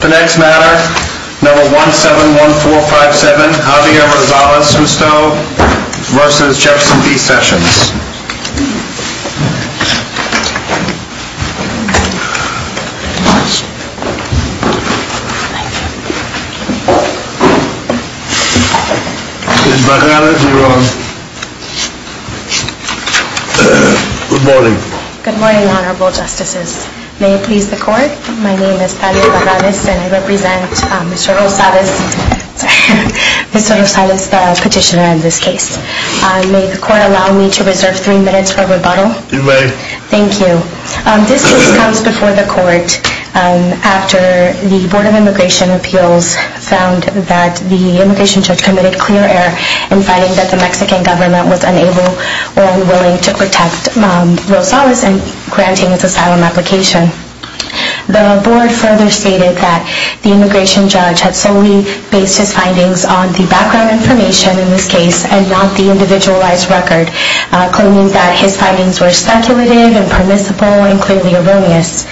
The next matter, No. 171457, Javier Rosales Justo v. Jefferson B. Sessions Good morning Good morning, Honorable Justices. May it please the Court, my name is Tania Baranis and I represent Mr. Rosales, sorry, Mr. Rosales the petitioner in this case. May the Court allow me to reserve three minutes for rebuttal? You may Thank you. This case comes before the Court after the Board of Immigration Appeals found that the immigration judge committed clear error in finding that the Mexican government was unable or unwilling to protect Rosales in granting his asylum application. The Board further stated that the immigration judge had solely based his findings on the background information in this case and not the individualized record, claiming that his findings were speculative and permissible and clearly erroneous.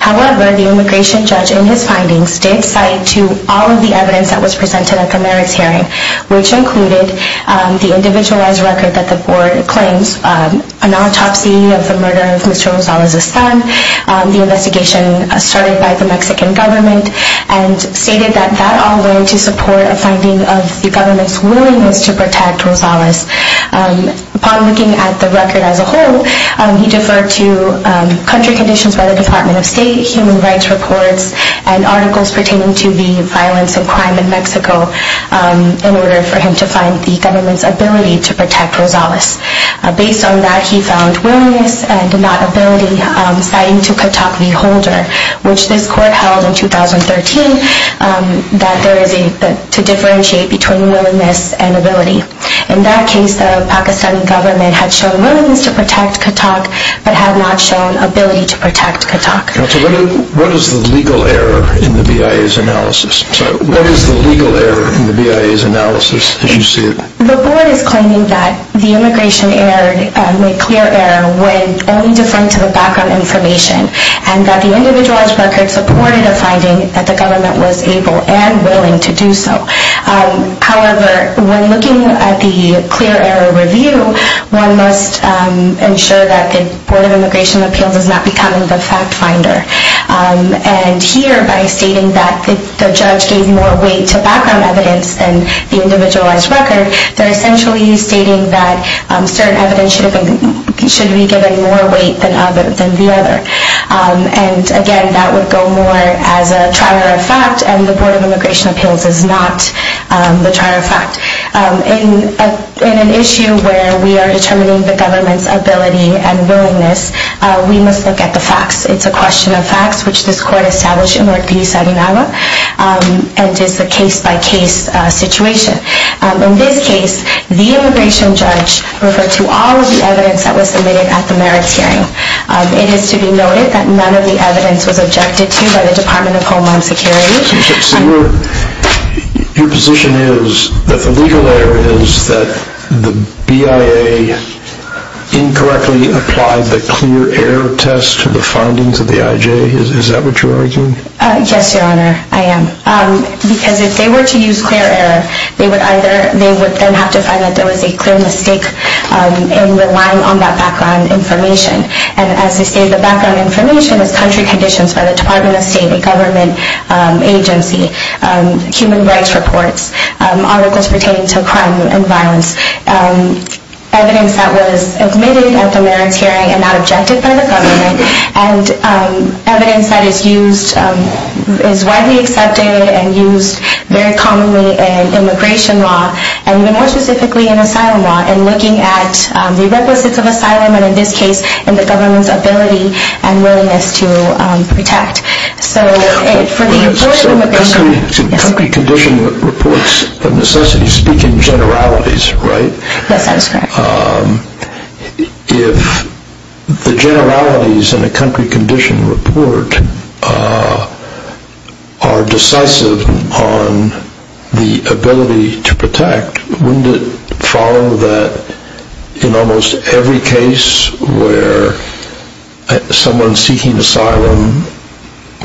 However, the immigration judge in his findings did cite to all of the evidence that was presented at the merits hearing, which included the individualized record that the Board claims, an autopsy of the murder of Mr. Rosales' son, the investigation started by the Mexican government, and stated that that all went to support a finding of the government's willingness to protect Rosales. Upon looking at the record as a whole, he deferred to country conditions by the Department of State, human rights reports, and articles pertaining to the violence and crime in Mexico in order for him to find the government's ability to protect Rosales. Based on that, he found willingness and not ability, citing to Catock v. Holder, which this Court held in 2013, that there is a need to differentiate between willingness and ability. In that case, the Pakistani government had shown willingness to protect Catock but had not shown ability to protect Catock. What is the legal error in the BIA's analysis? The Board is claiming that the immigration error, the clear error, when only deferring to the background information, and that the individualized record supported a finding that the government was able and willing to do so. However, when looking at the clear error review, one must ensure that the Board of Immigration Appeals is not becoming the fact finder. Here, by stating that the judge gave more weight to background evidence than the individualized record, they're essentially stating that certain evidence should be given more weight than the other. Again, that would go more as a trial error fact, and the Board of Immigration Appeals is not the trial error fact. In an issue where we are determining the government's ability and willingness, we must look at the facts. It's a question of facts, which this Court established in Ortiz v. Hidalgo, and is a case-by-case situation. In this case, the immigration judge referred to all of the evidence that was submitted at the merits hearing. It is to be noted that none of the evidence was objected to by the Department of Homeland Security. Your position is that the legal error is that the BIA incorrectly applied the clear error test to the findings of the IJ? Is that what you're arguing? Yes, Your Honor, I am. Because if they were to use clear error, they would then have to find that there was a clear mistake in relying on that background information. And as I stated, the background information is country conditions by the Department of State, the government agency, human rights reports, articles pertaining to crime and violence, evidence that was submitted at the merits hearing and not objected by the government, and evidence that is widely accepted and used very commonly in immigration law, and more specifically in asylum law, in looking at the requisites of asylum, and in this case, in the government's ability and willingness to protect. So country condition reports of necessity speak in generalities, right? Yes, that is correct. If the generalities in a country condition report are decisive on the ability to protect, wouldn't it follow that in almost every case where someone seeking asylum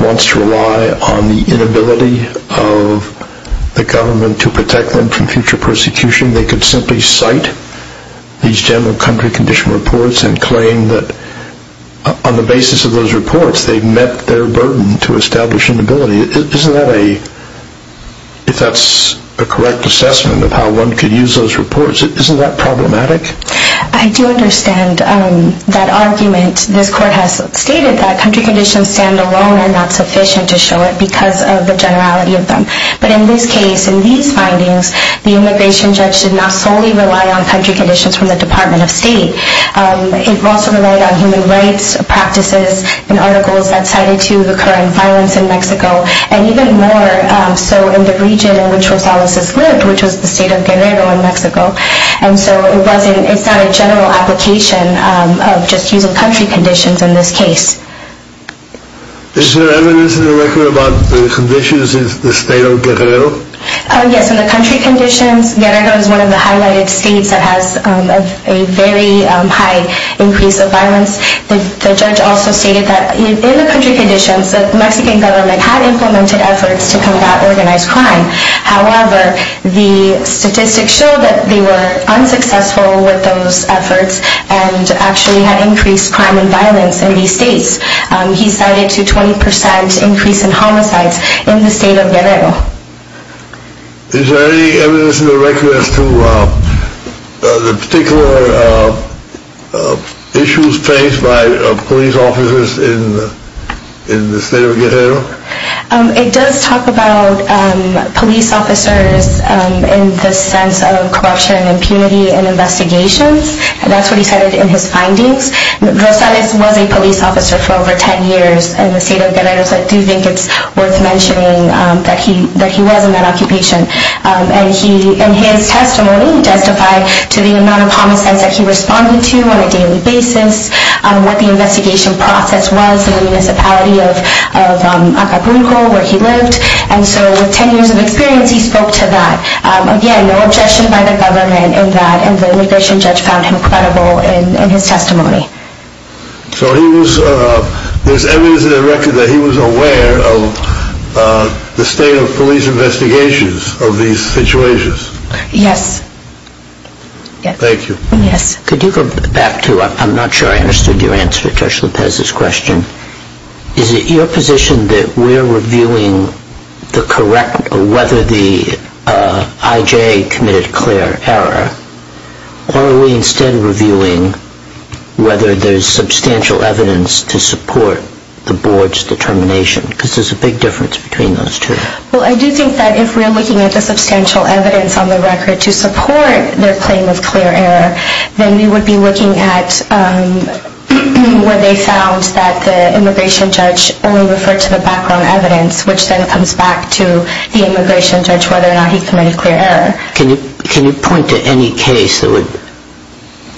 wants to rely on the inability of the government to protect them from future persecution, they could simply cite these general country condition reports and claim that on the basis of those reports, they met their burden to establish inability? Isn't that a, if that's a correct assessment of how one could use those reports, isn't that problematic? I do understand that argument. This Court has stated that country conditions stand alone and are not sufficient to show it because of the generality of them. But in this case, in these findings, the immigration judge did not solely rely on country conditions from the Department of State. It also relied on human rights practices and articles that cited to the current violence in Mexico, and even more so in the region in which Rosales lived, which was the state of Guerrero in Mexico. And so it wasn't, it's not a general application of just using country conditions in this case. Is there evidence in the record about the conditions in the state of Guerrero? Yes, in the country conditions, Guerrero is one of the highlighted states that has a very high increase of violence. The judge also stated that in the country conditions, the Mexican government had implemented efforts to combat organized crime. However, the statistics show that they were unsuccessful with those efforts and actually had increased crime and violence in these states. He cited to 20% increase in homicides in the state of Guerrero. Is there any evidence in the record as to the particular issues faced by police officers in the state of Guerrero? It does talk about police officers in the sense of corruption and impunity in investigations, and that's what he cited in his findings. Rosales was a police officer for over 10 years in the state of Guerrero, so I do think it's worth mentioning that he was in that occupation. And he, in his testimony, justified to the amount of homicides that he responded to on a daily basis, what the investigation process was in the municipality of Acapulco, where he lived. And so with 10 years of experience, he spoke to that. Again, no objection by the government in that, and the immigration judge found him credible in his testimony. So there's evidence in the record that he was aware of the state of police investigations of these situations? Yes. Thank you. Could you go back to, I'm not sure I understood your answer to Judge Lopez's question. Is it your position that we're reviewing the correct, whether the IJ committed clear error, or are we instead reviewing whether there's substantial evidence to support the board's determination? Because there's a big difference between those two. Well, I do think that if we're looking at the substantial evidence on the record to support their claim of clear error, then we would be looking at where they found that the immigration judge only referred to the background evidence, which then comes back to the immigration judge, whether or not he committed clear error. Can you point to any case that would,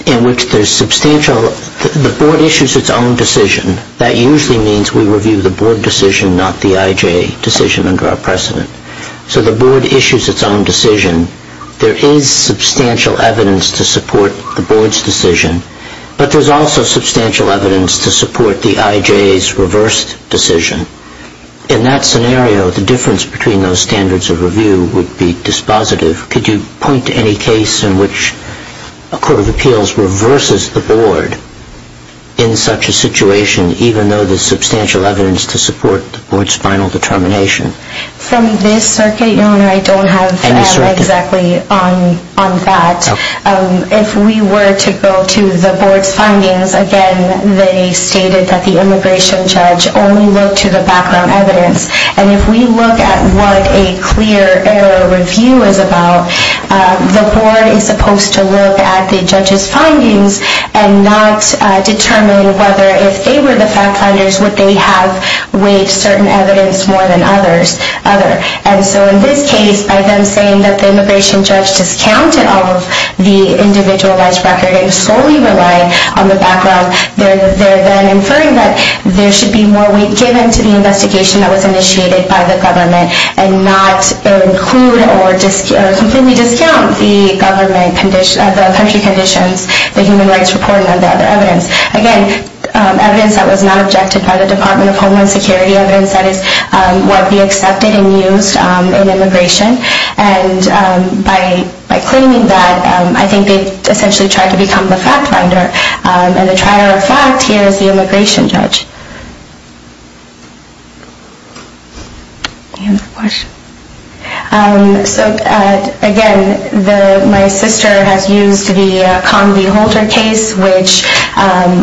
in which there's substantial, the board issues its own decision. That usually means we review the board decision, not the IJ decision under our precedent. So the board issues its own decision. There is substantial evidence to support the board's decision, but there's also substantial evidence to support the IJ's reversed decision. In that scenario, the difference between those standards of review would be dispositive. Could you point to any case in which a court of appeals reverses the board in such a situation, even though there's substantial evidence to support the board's final determination? From this circuit, Your Honor, I don't have exactly on that. If we were to go to the board's findings, again, they stated that the immigration judge only looked to the background evidence. And if we look at what a clear error review is about, the board is supposed to look at the judge's findings and not determine whether if they were the fact finders, would they have weighed certain evidence more than others. And so in this case, by them saying that the immigration judge discounted all of the individualized record and solely relied on the background, they're then inferring that there should be more weight given to the investigation that was initiated by the government and not include or completely discount the country conditions, the human rights report, and the other evidence. Again, evidence that was not objected by the Department of Homeland Security, evidence that is what we accepted and used in immigration. And by claiming that, I think they essentially tried to become the fact finder. And the trier of fact here is the immigration judge. Any other questions? So again, my sister has used the Conn v. Holter case, which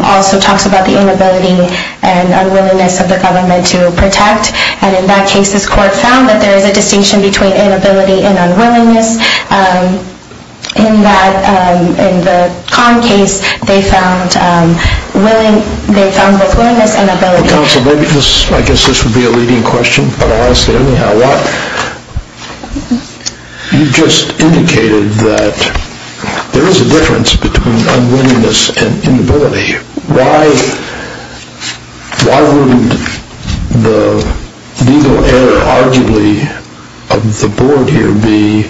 also talks about the inability and unwillingness of the government to protect. And in that case, this court found that there is a distinction between inability and unwillingness. In the Conn case, they found both willingness and ability. Counsel, I guess this would be a leading question, but I'll ask it anyhow. You just indicated that there is a difference between unwillingness and inability. Why wouldn't the legal error, arguably, of the board here be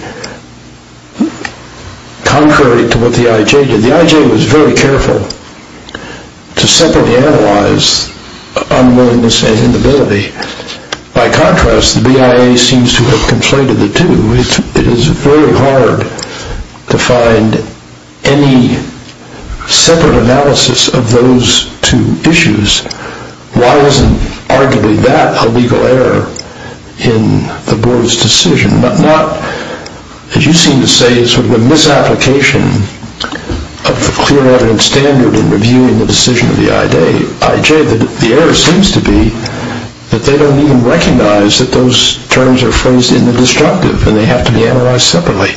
contrary to what the I.J. did? The I.J. was very careful to separately analyze unwillingness and inability. By contrast, the BIA seems to have conflated the two. It is very hard to find any separate analysis of those two issues. Why isn't, arguably, that a legal error in the board's decision? Not, as you seem to say, sort of a misapplication of the clear evidence standard in reviewing the decision of the I.J. The error seems to be that they don't even recognize that those terms are phrased in the destructive and they have to be analyzed separately.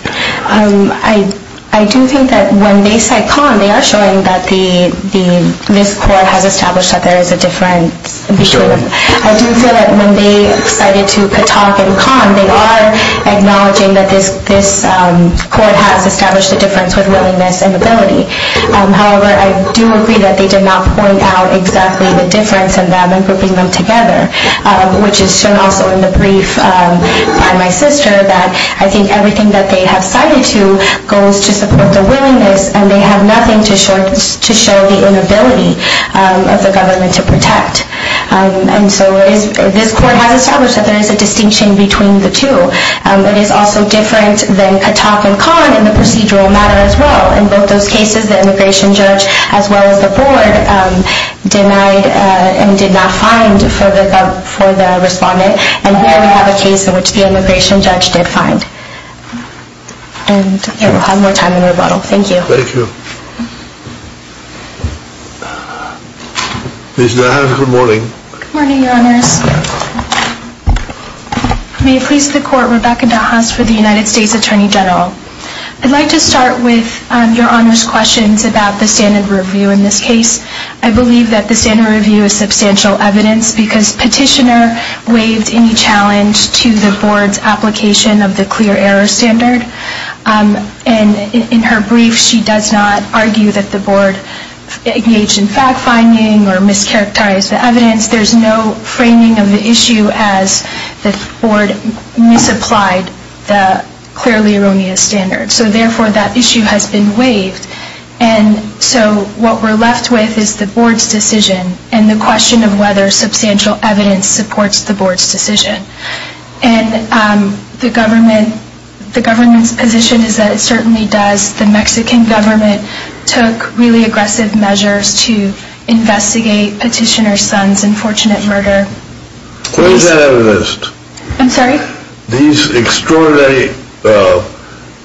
I do think that when they cite Conn, they are showing that this court has established that there is a difference. I do feel that when they cited to Katak and Conn, they are acknowledging that this court has established a difference with willingness and ability. However, I do agree that they did not point out exactly the difference in them and grouping them together, which is shown also in the brief by my sister that I think everything that they have cited to goes to support the willingness and they have nothing to show the inability of the government to protect. And so this court has established that there is a distinction between the two. It is also different than Katak and Conn in the procedural matter as well. In both those cases, the immigration judge as well as the board denied and did not find for the respondent. And here we have a case in which the immigration judge did find. And we'll have more time in rebuttal. Thank you. Thank you. Please do. Good morning. Good morning, Your Honors. May it please the Court, Rebecca DeHaas for the United States Attorney General. I'd like to start with Your Honors' questions about the standard review in this case. I believe that the standard review is substantial evidence because Petitioner waived any challenge to the board's application of the clear error standard. And in her brief, she does not argue that the board engaged in fact-finding or mischaracterized the evidence. There's no framing of the issue as the board misapplied the clearly erroneous standard. So, therefore, that issue has been waived. And so what we're left with is the board's decision and the question of whether substantial evidence supports the board's decision. And the government's position is that it certainly does. The Mexican government took really aggressive measures to investigate Petitioner's son's unfortunate murder. Where is that evidence? I'm sorry? These extraordinary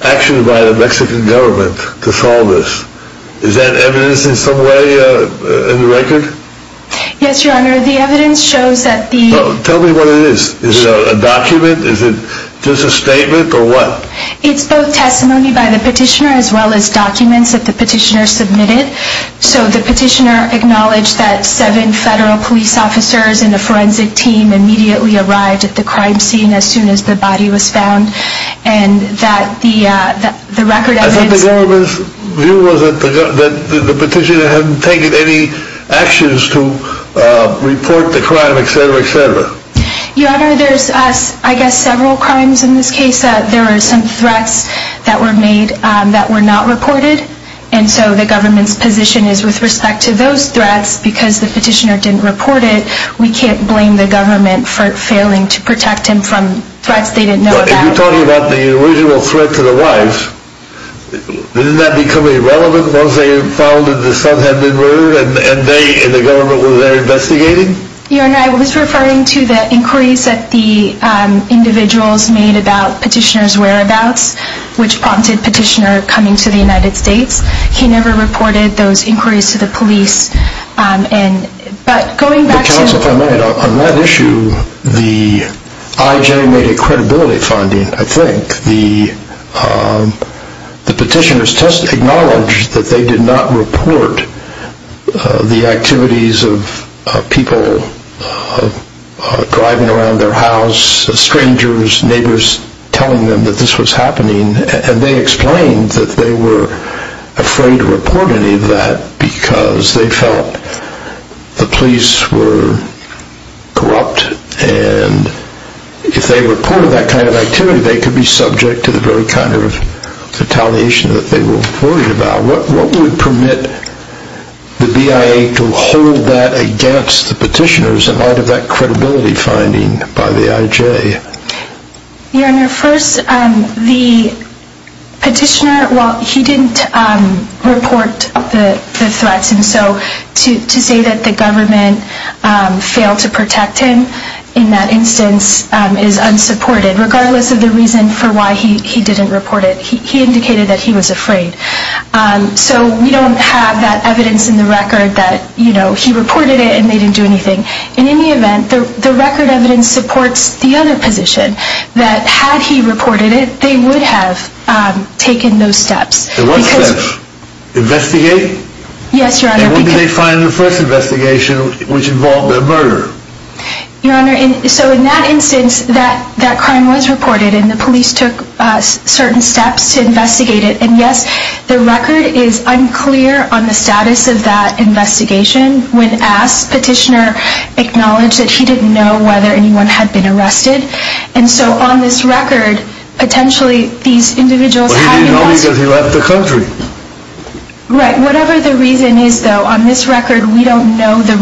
actions by the Mexican government to solve this, is that evidence in some way in the record? Yes, Your Honor. The evidence shows that the- Tell me what it is. Is it a document? Is it just a statement or what? It's both testimony by the Petitioner as well as documents that the Petitioner submitted. So the Petitioner acknowledged that seven federal police officers and a forensic team immediately arrived at the crime scene as soon as the body was found. And that the record evidence- I thought the government's view was that the Petitioner hadn't taken any actions to report the crime, et cetera, et cetera. Your Honor, there's, I guess, several crimes in this case. There were some threats that were made that were not reported. And so the government's position is with respect to those threats, because the Petitioner didn't report it, we can't blame the government for failing to protect him from threats they didn't know about. You're talking about the original threat to the wives. Didn't that become irrelevant once they found that the son had been murdered and the government was there investigating? Your Honor, I was referring to the inquiries that the individuals made about Petitioner's whereabouts, which prompted Petitioner coming to the United States. He never reported those inquiries to the police. But going back to- But, Johnson, if I may, on that issue, the IJ made a credibility finding, I think. The Petitioner's test acknowledged that they did not report the activities of people driving around their house, strangers, neighbors, telling them that this was happening. And they explained that they were afraid to report any of that because they felt the police were corrupt. And if they reported that kind of activity, they could be subject to the very kind of retaliation that they were worried about. What would permit the BIA to hold that against the Petitioner's in light of that credibility finding by the IJ? Your Honor, first, the Petitioner, well, he didn't report the threats. And so to say that the government failed to protect him in that instance is unsupported, regardless of the reason for why he didn't report it. He indicated that he was afraid. So we don't have that evidence in the record that, you know, he reported it and they didn't do anything. In any event, the record evidence supports the other position that had he reported it, they would have taken those steps. There was steps. Investigate? Yes, Your Honor. And what did they find in the first investigation which involved a murder? Your Honor, so in that instance, that crime was reported and the police took certain steps to investigate it. And yes, the record is unclear on the status of that investigation. When asked, Petitioner acknowledged that he didn't know whether anyone had been arrested. And so on this record, potentially these individuals had been arrested. Well, he didn't know because he left the country. Right. Whatever the reason is, though, on this record, we don't know the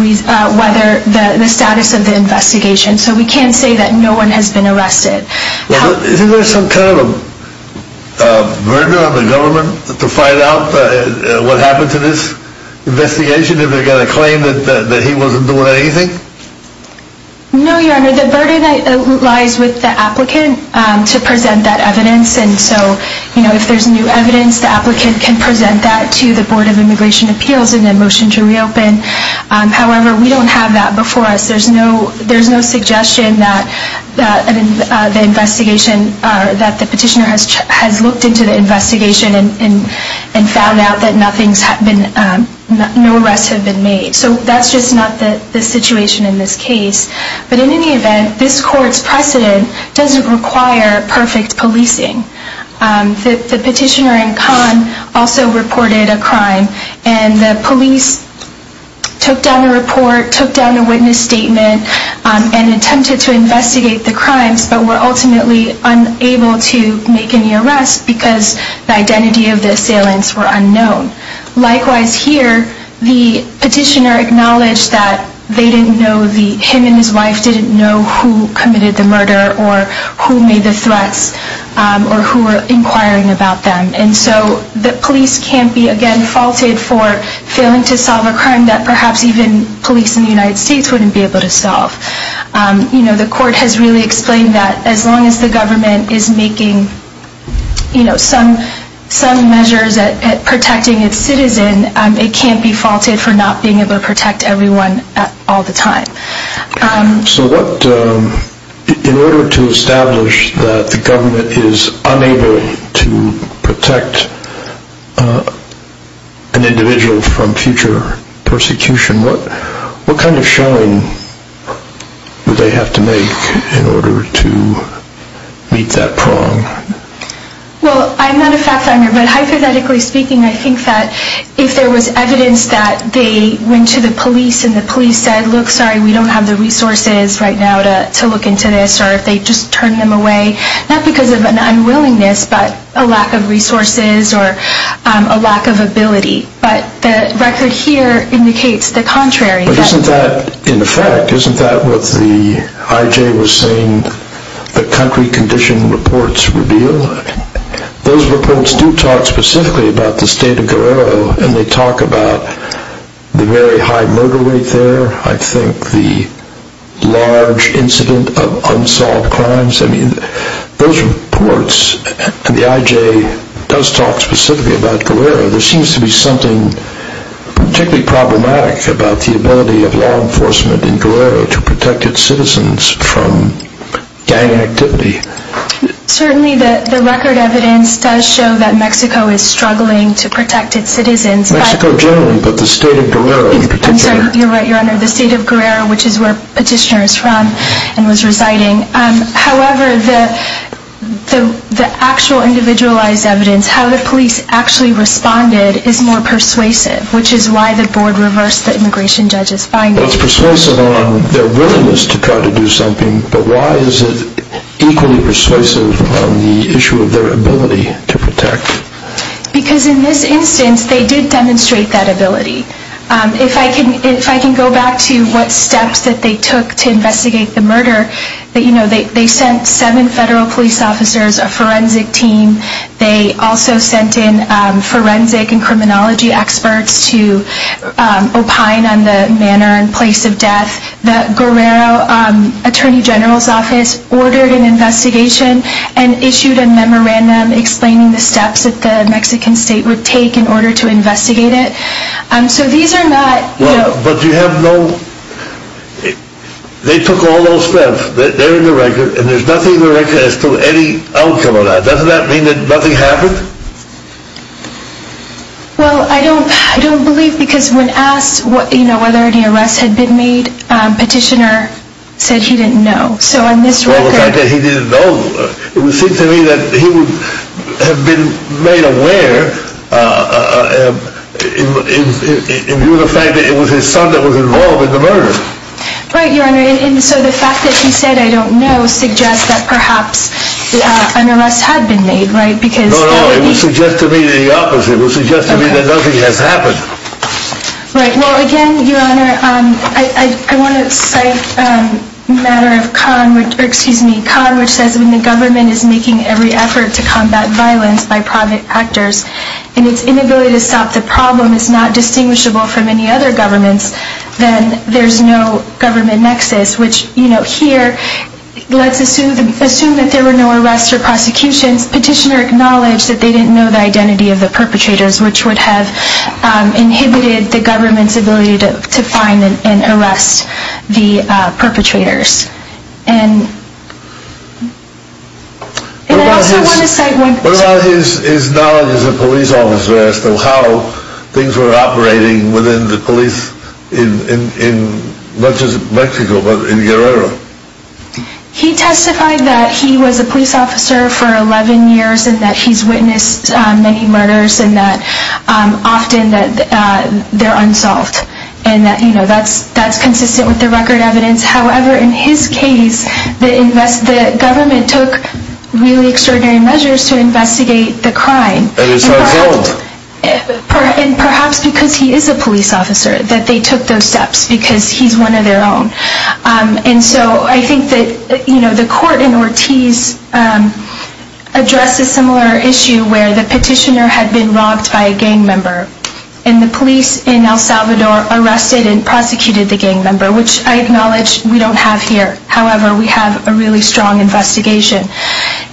status of the investigation. So we can't say that no one has been arrested. Isn't there some kind of a burden on the government to find out what happened to this investigation? Have they got a claim that he wasn't doing anything? No, Your Honor. The burden lies with the applicant to present that evidence. And so, you know, if there's new evidence, the applicant can present that to the Board of Immigration Appeals and then motion to reopen. However, we don't have that before us. There's no suggestion that the Petitioner has looked into the investigation and found out that no arrests have been made. So that's just not the situation in this case. But in any event, this court's precedent doesn't require perfect policing. The Petitioner and Khan also reported a crime. And the police took down a report, took down a witness statement, and attempted to investigate the crimes, but were ultimately unable to make any arrests because the identity of the assailants were unknown. Likewise here, the Petitioner acknowledged that they didn't know, him and his wife didn't know who committed the murder or who made the threats or who were inquiring about them. And so the police can't be, again, faulted for failing to solve a crime that perhaps even police in the United States wouldn't be able to solve. You know, the court has really explained that as long as the government is making, you know, some measures at protecting its citizen, it can't be faulted for not being able to protect everyone all the time. So what, in order to establish that the government is unable to protect an individual from future persecution, what kind of showing would they have to make in order to meet that prong? Well, I'm not a fact finder, but hypothetically speaking, I think that if there was evidence that they went to the police and the police said, look, sorry, we don't have the resources right now to look into this, or if they just turned them away, not because of an unwillingness, but a lack of resources or a lack of ability. But the record here indicates the contrary. But isn't that, in effect, isn't that what the IJ was saying, the country condition reports reveal? Those reports do talk specifically about the state of Guerrero, and they talk about the very high murder rate there, I think the large incident of unsolved crimes. I mean, those reports, the IJ does talk specifically about Guerrero. There seems to be something particularly problematic about the ability of law enforcement in Guerrero to protect its citizens from gang activity. Certainly the record evidence does show that Mexico is struggling to protect its citizens. Mexico generally, but the state of Guerrero in particular. I'm sorry, you're right, Your Honor, the state of Guerrero, which is where Petitioner is from and was residing. However, the actual individualized evidence, how the police actually responded, is more persuasive, which is why the board reversed the immigration judge's findings. Well, it's persuasive on their willingness to try to do something, but why is it equally persuasive on the issue of their ability to protect? Because in this instance, they did demonstrate that ability. If I can go back to what steps that they took to investigate the murder, they sent seven federal police officers, a forensic team. They also sent in forensic and criminology experts to opine on the manner and place of death. The Guerrero Attorney General's Office ordered an investigation and issued a memorandum explaining the steps that the Mexican state would take in order to investigate it. So these are not... But you have no... They took all those steps. They're in the record, and there's nothing in the record as to any outcome of that. Doesn't that mean that nothing happened? Well, I don't believe, because when asked whether any arrests had been made, Petitioner said he didn't know. So on this record... Well, the fact that he didn't know, it would seem to me that he would have been made aware in view of the fact that it was his son that was involved in the murder. Right, Your Honor. And so the fact that he said, I don't know, suggests that perhaps an arrest had been made, right? No, no. It would suggest to me the opposite. It would suggest to me that nothing has happened. Right. Well, again, Your Honor, I want to cite a matter of Khan, which says, when the government is making every effort to combat violence by private actors and its inability to stop the problem is not distinguishable from any other government's, then there's no government nexus, which, you know, here, let's assume that there were no arrests or prosecutions. Petitioner acknowledged that they didn't know the identity of the perpetrators, which would have inhibited the government's ability to find and arrest the perpetrators. And I also want to cite one... His knowledge as a police officer as to how things were operating within the police in not just Mexico, but in Guerrero. He testified that he was a police officer for 11 years and that he's witnessed many murders and that often they're unsolved. And, you know, that's consistent with the record evidence. However, in his case, the government took really extraordinary measures to investigate the crime and perhaps because he is a police officer that they took those steps because he's one of their own. And so I think that, you know, the court in Ortiz addressed a similar issue where the petitioner had been robbed by a gang member and the police in El Salvador arrested and prosecuted the gang member, which I acknowledge we don't have here. However, we have a really strong investigation.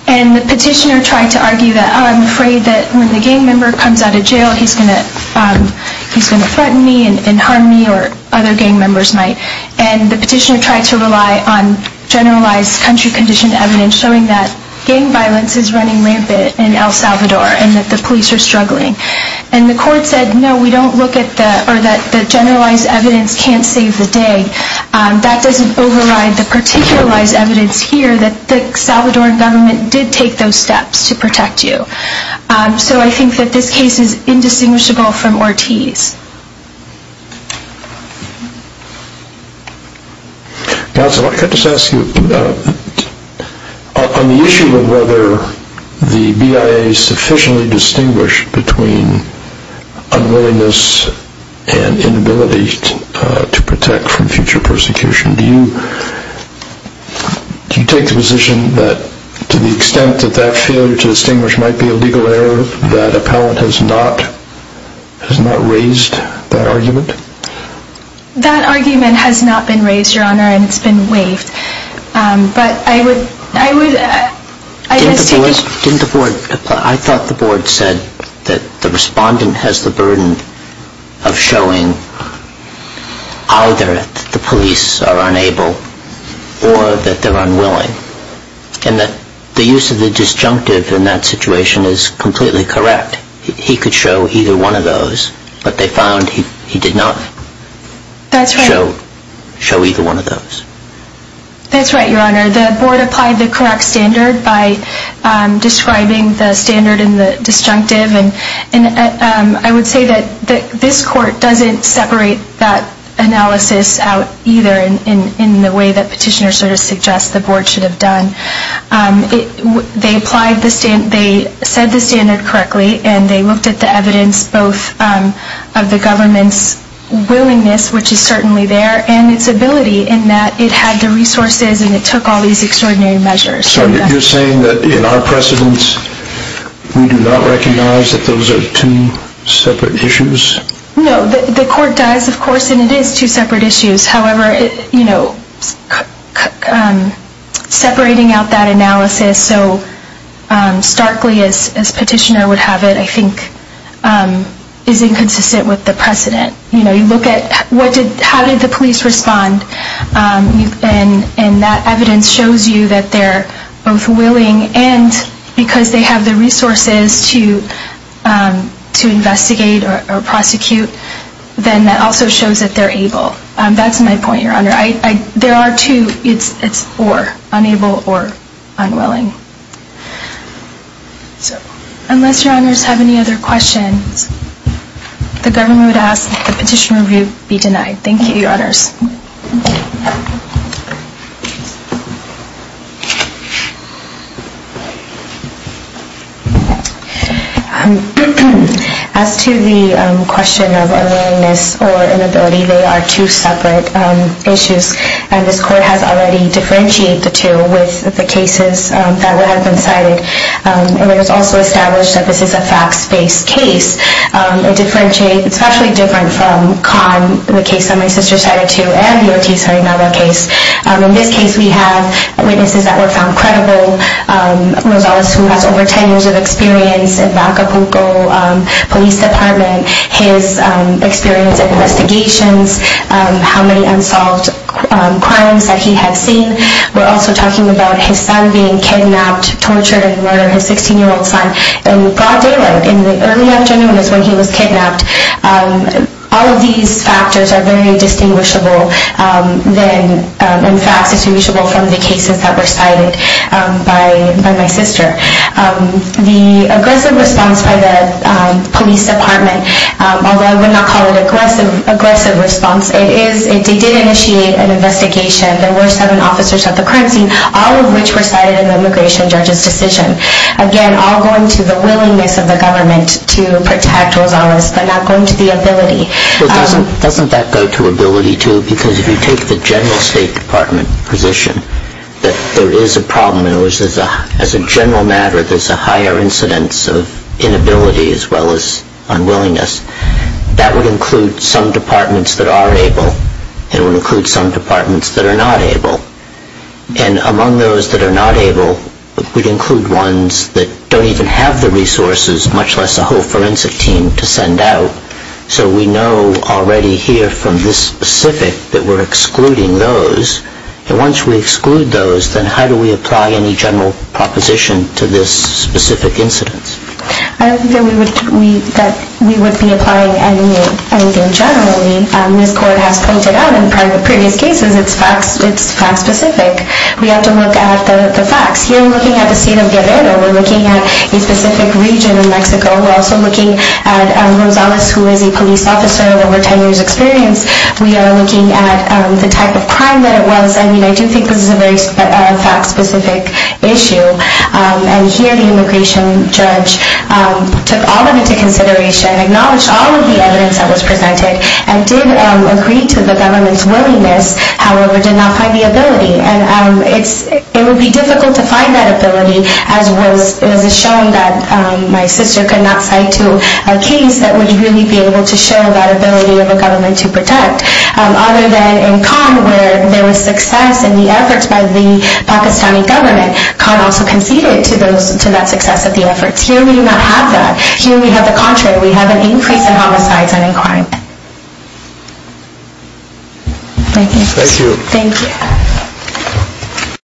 And the petitioner tried to argue that, oh, I'm afraid that when the gang member comes out of jail he's going to threaten me and harm me or other gang members might. And the petitioner tried to rely on generalized country-conditioned evidence showing that gang violence is running rampant in El Salvador and that the police are struggling. And the court said, no, we don't look at the... or that the generalized evidence can't save the day. That doesn't override the particularized evidence here that the Salvadoran government did take those steps to protect you. So I think that this case is indistinguishable from Ortiz. Counselor, can I just ask you, on the issue of whether the BIA sufficiently distinguished between unwillingness and inability to protect from future persecution, do you take the position that to the extent that that failure to distinguish might be a legal error, that appellant has not raised that argument? That argument has not been raised, Your Honor, and it's been waived. But I would... Didn't the board... I thought the board said that the respondent has the burden of showing either that the police are unable or that they're unwilling and that the use of the disjunctive in that situation is completely correct. He could show either one of those, but they found he did not show either one of those. That's right, Your Honor. The board applied the correct standard by describing the standard in the disjunctive and I would say that this court doesn't separate that analysis out either in the way that petitioner sort of suggests the board should have done. They said the standard correctly and they looked at the evidence both of the government's willingness, which is certainly there, and its ability in that it had the resources and it took all these extraordinary measures. So you're saying that in our precedents we do not recognize that those are two separate issues? No, the court does, of course, and it is two separate issues. However, separating out that analysis so starkly as petitioner would have it, I think, is inconsistent with the precedent. You look at how did the police respond and that evidence shows you that they're both willing and because they have the resources to investigate or prosecute, then that also shows that they're able. That's my point, Your Honor. There are two. It's or, unable or unwilling. Unless Your Honors have any other questions, the government would ask that the petition review be denied. Thank you, Your Honors. As to the question of unwillingness or inability, they are two separate issues and this court has already differentiated the two with the cases that have been cited. It was also established that this is a facts-based case. It's actually different from the case that my sister cited too and the O.T. Serenado case. In this case, we have witnesses that were found credible. Rosales, who has over 10 years of experience in Bacapuco Police Department, his experience in investigations, how many unsolved crimes that he had seen. We're also talking about his son being kidnapped, tortured, and murdered, his 16-year-old son, in broad daylight, in the early afternoons when he was kidnapped. All of these factors are very distinguishable. In fact, distinguishable from the cases that were cited by my sister. The aggressive response by the police department, although I would not call it aggressive response, it did initiate an investigation. There were seven officers at the crime scene, all of which were cited in the immigration judge's decision. Again, all going to the willingness of the government to protect Rosales, but not going to the ability. Doesn't that go to ability too? Because if you take the general State Department position, that there is a problem and as a general matter, there's a higher incidence of inability as well as unwillingness. That would include some departments that are able. It would include some departments that are not able. And among those that are not able, it would include ones that don't even have the resources, much less a whole forensic team to send out. So we know already here from this specific that we're excluding those. And once we exclude those, then how do we apply any general proposition to this specific incidence? I don't think that we would be applying anything generally. This court has pointed out in previous cases it's fact specific. We have to look at the facts. Here we're looking at the state of Guerrero. We're looking at a specific region in Mexico. We're also looking at Rosales, who is a police officer of over 10 years experience. We are looking at the type of crime that it was. I mean, I do think this is a very fact specific issue. And here the immigration judge took all of it into consideration, acknowledged all of the evidence that was presented, and did agree to the government's willingness, however did not find the ability. And it would be difficult to find that ability, as was shown that my sister could not cite to a case that would really be able to show that ability of a government to protect. Other than in Cannes, where there was success in the efforts by the Pakistani government, Cannes also conceded to that success of the efforts. Here we do not have that. Here we have the contrary. We have an increase in homicides and in crime. Thank you. Thank you.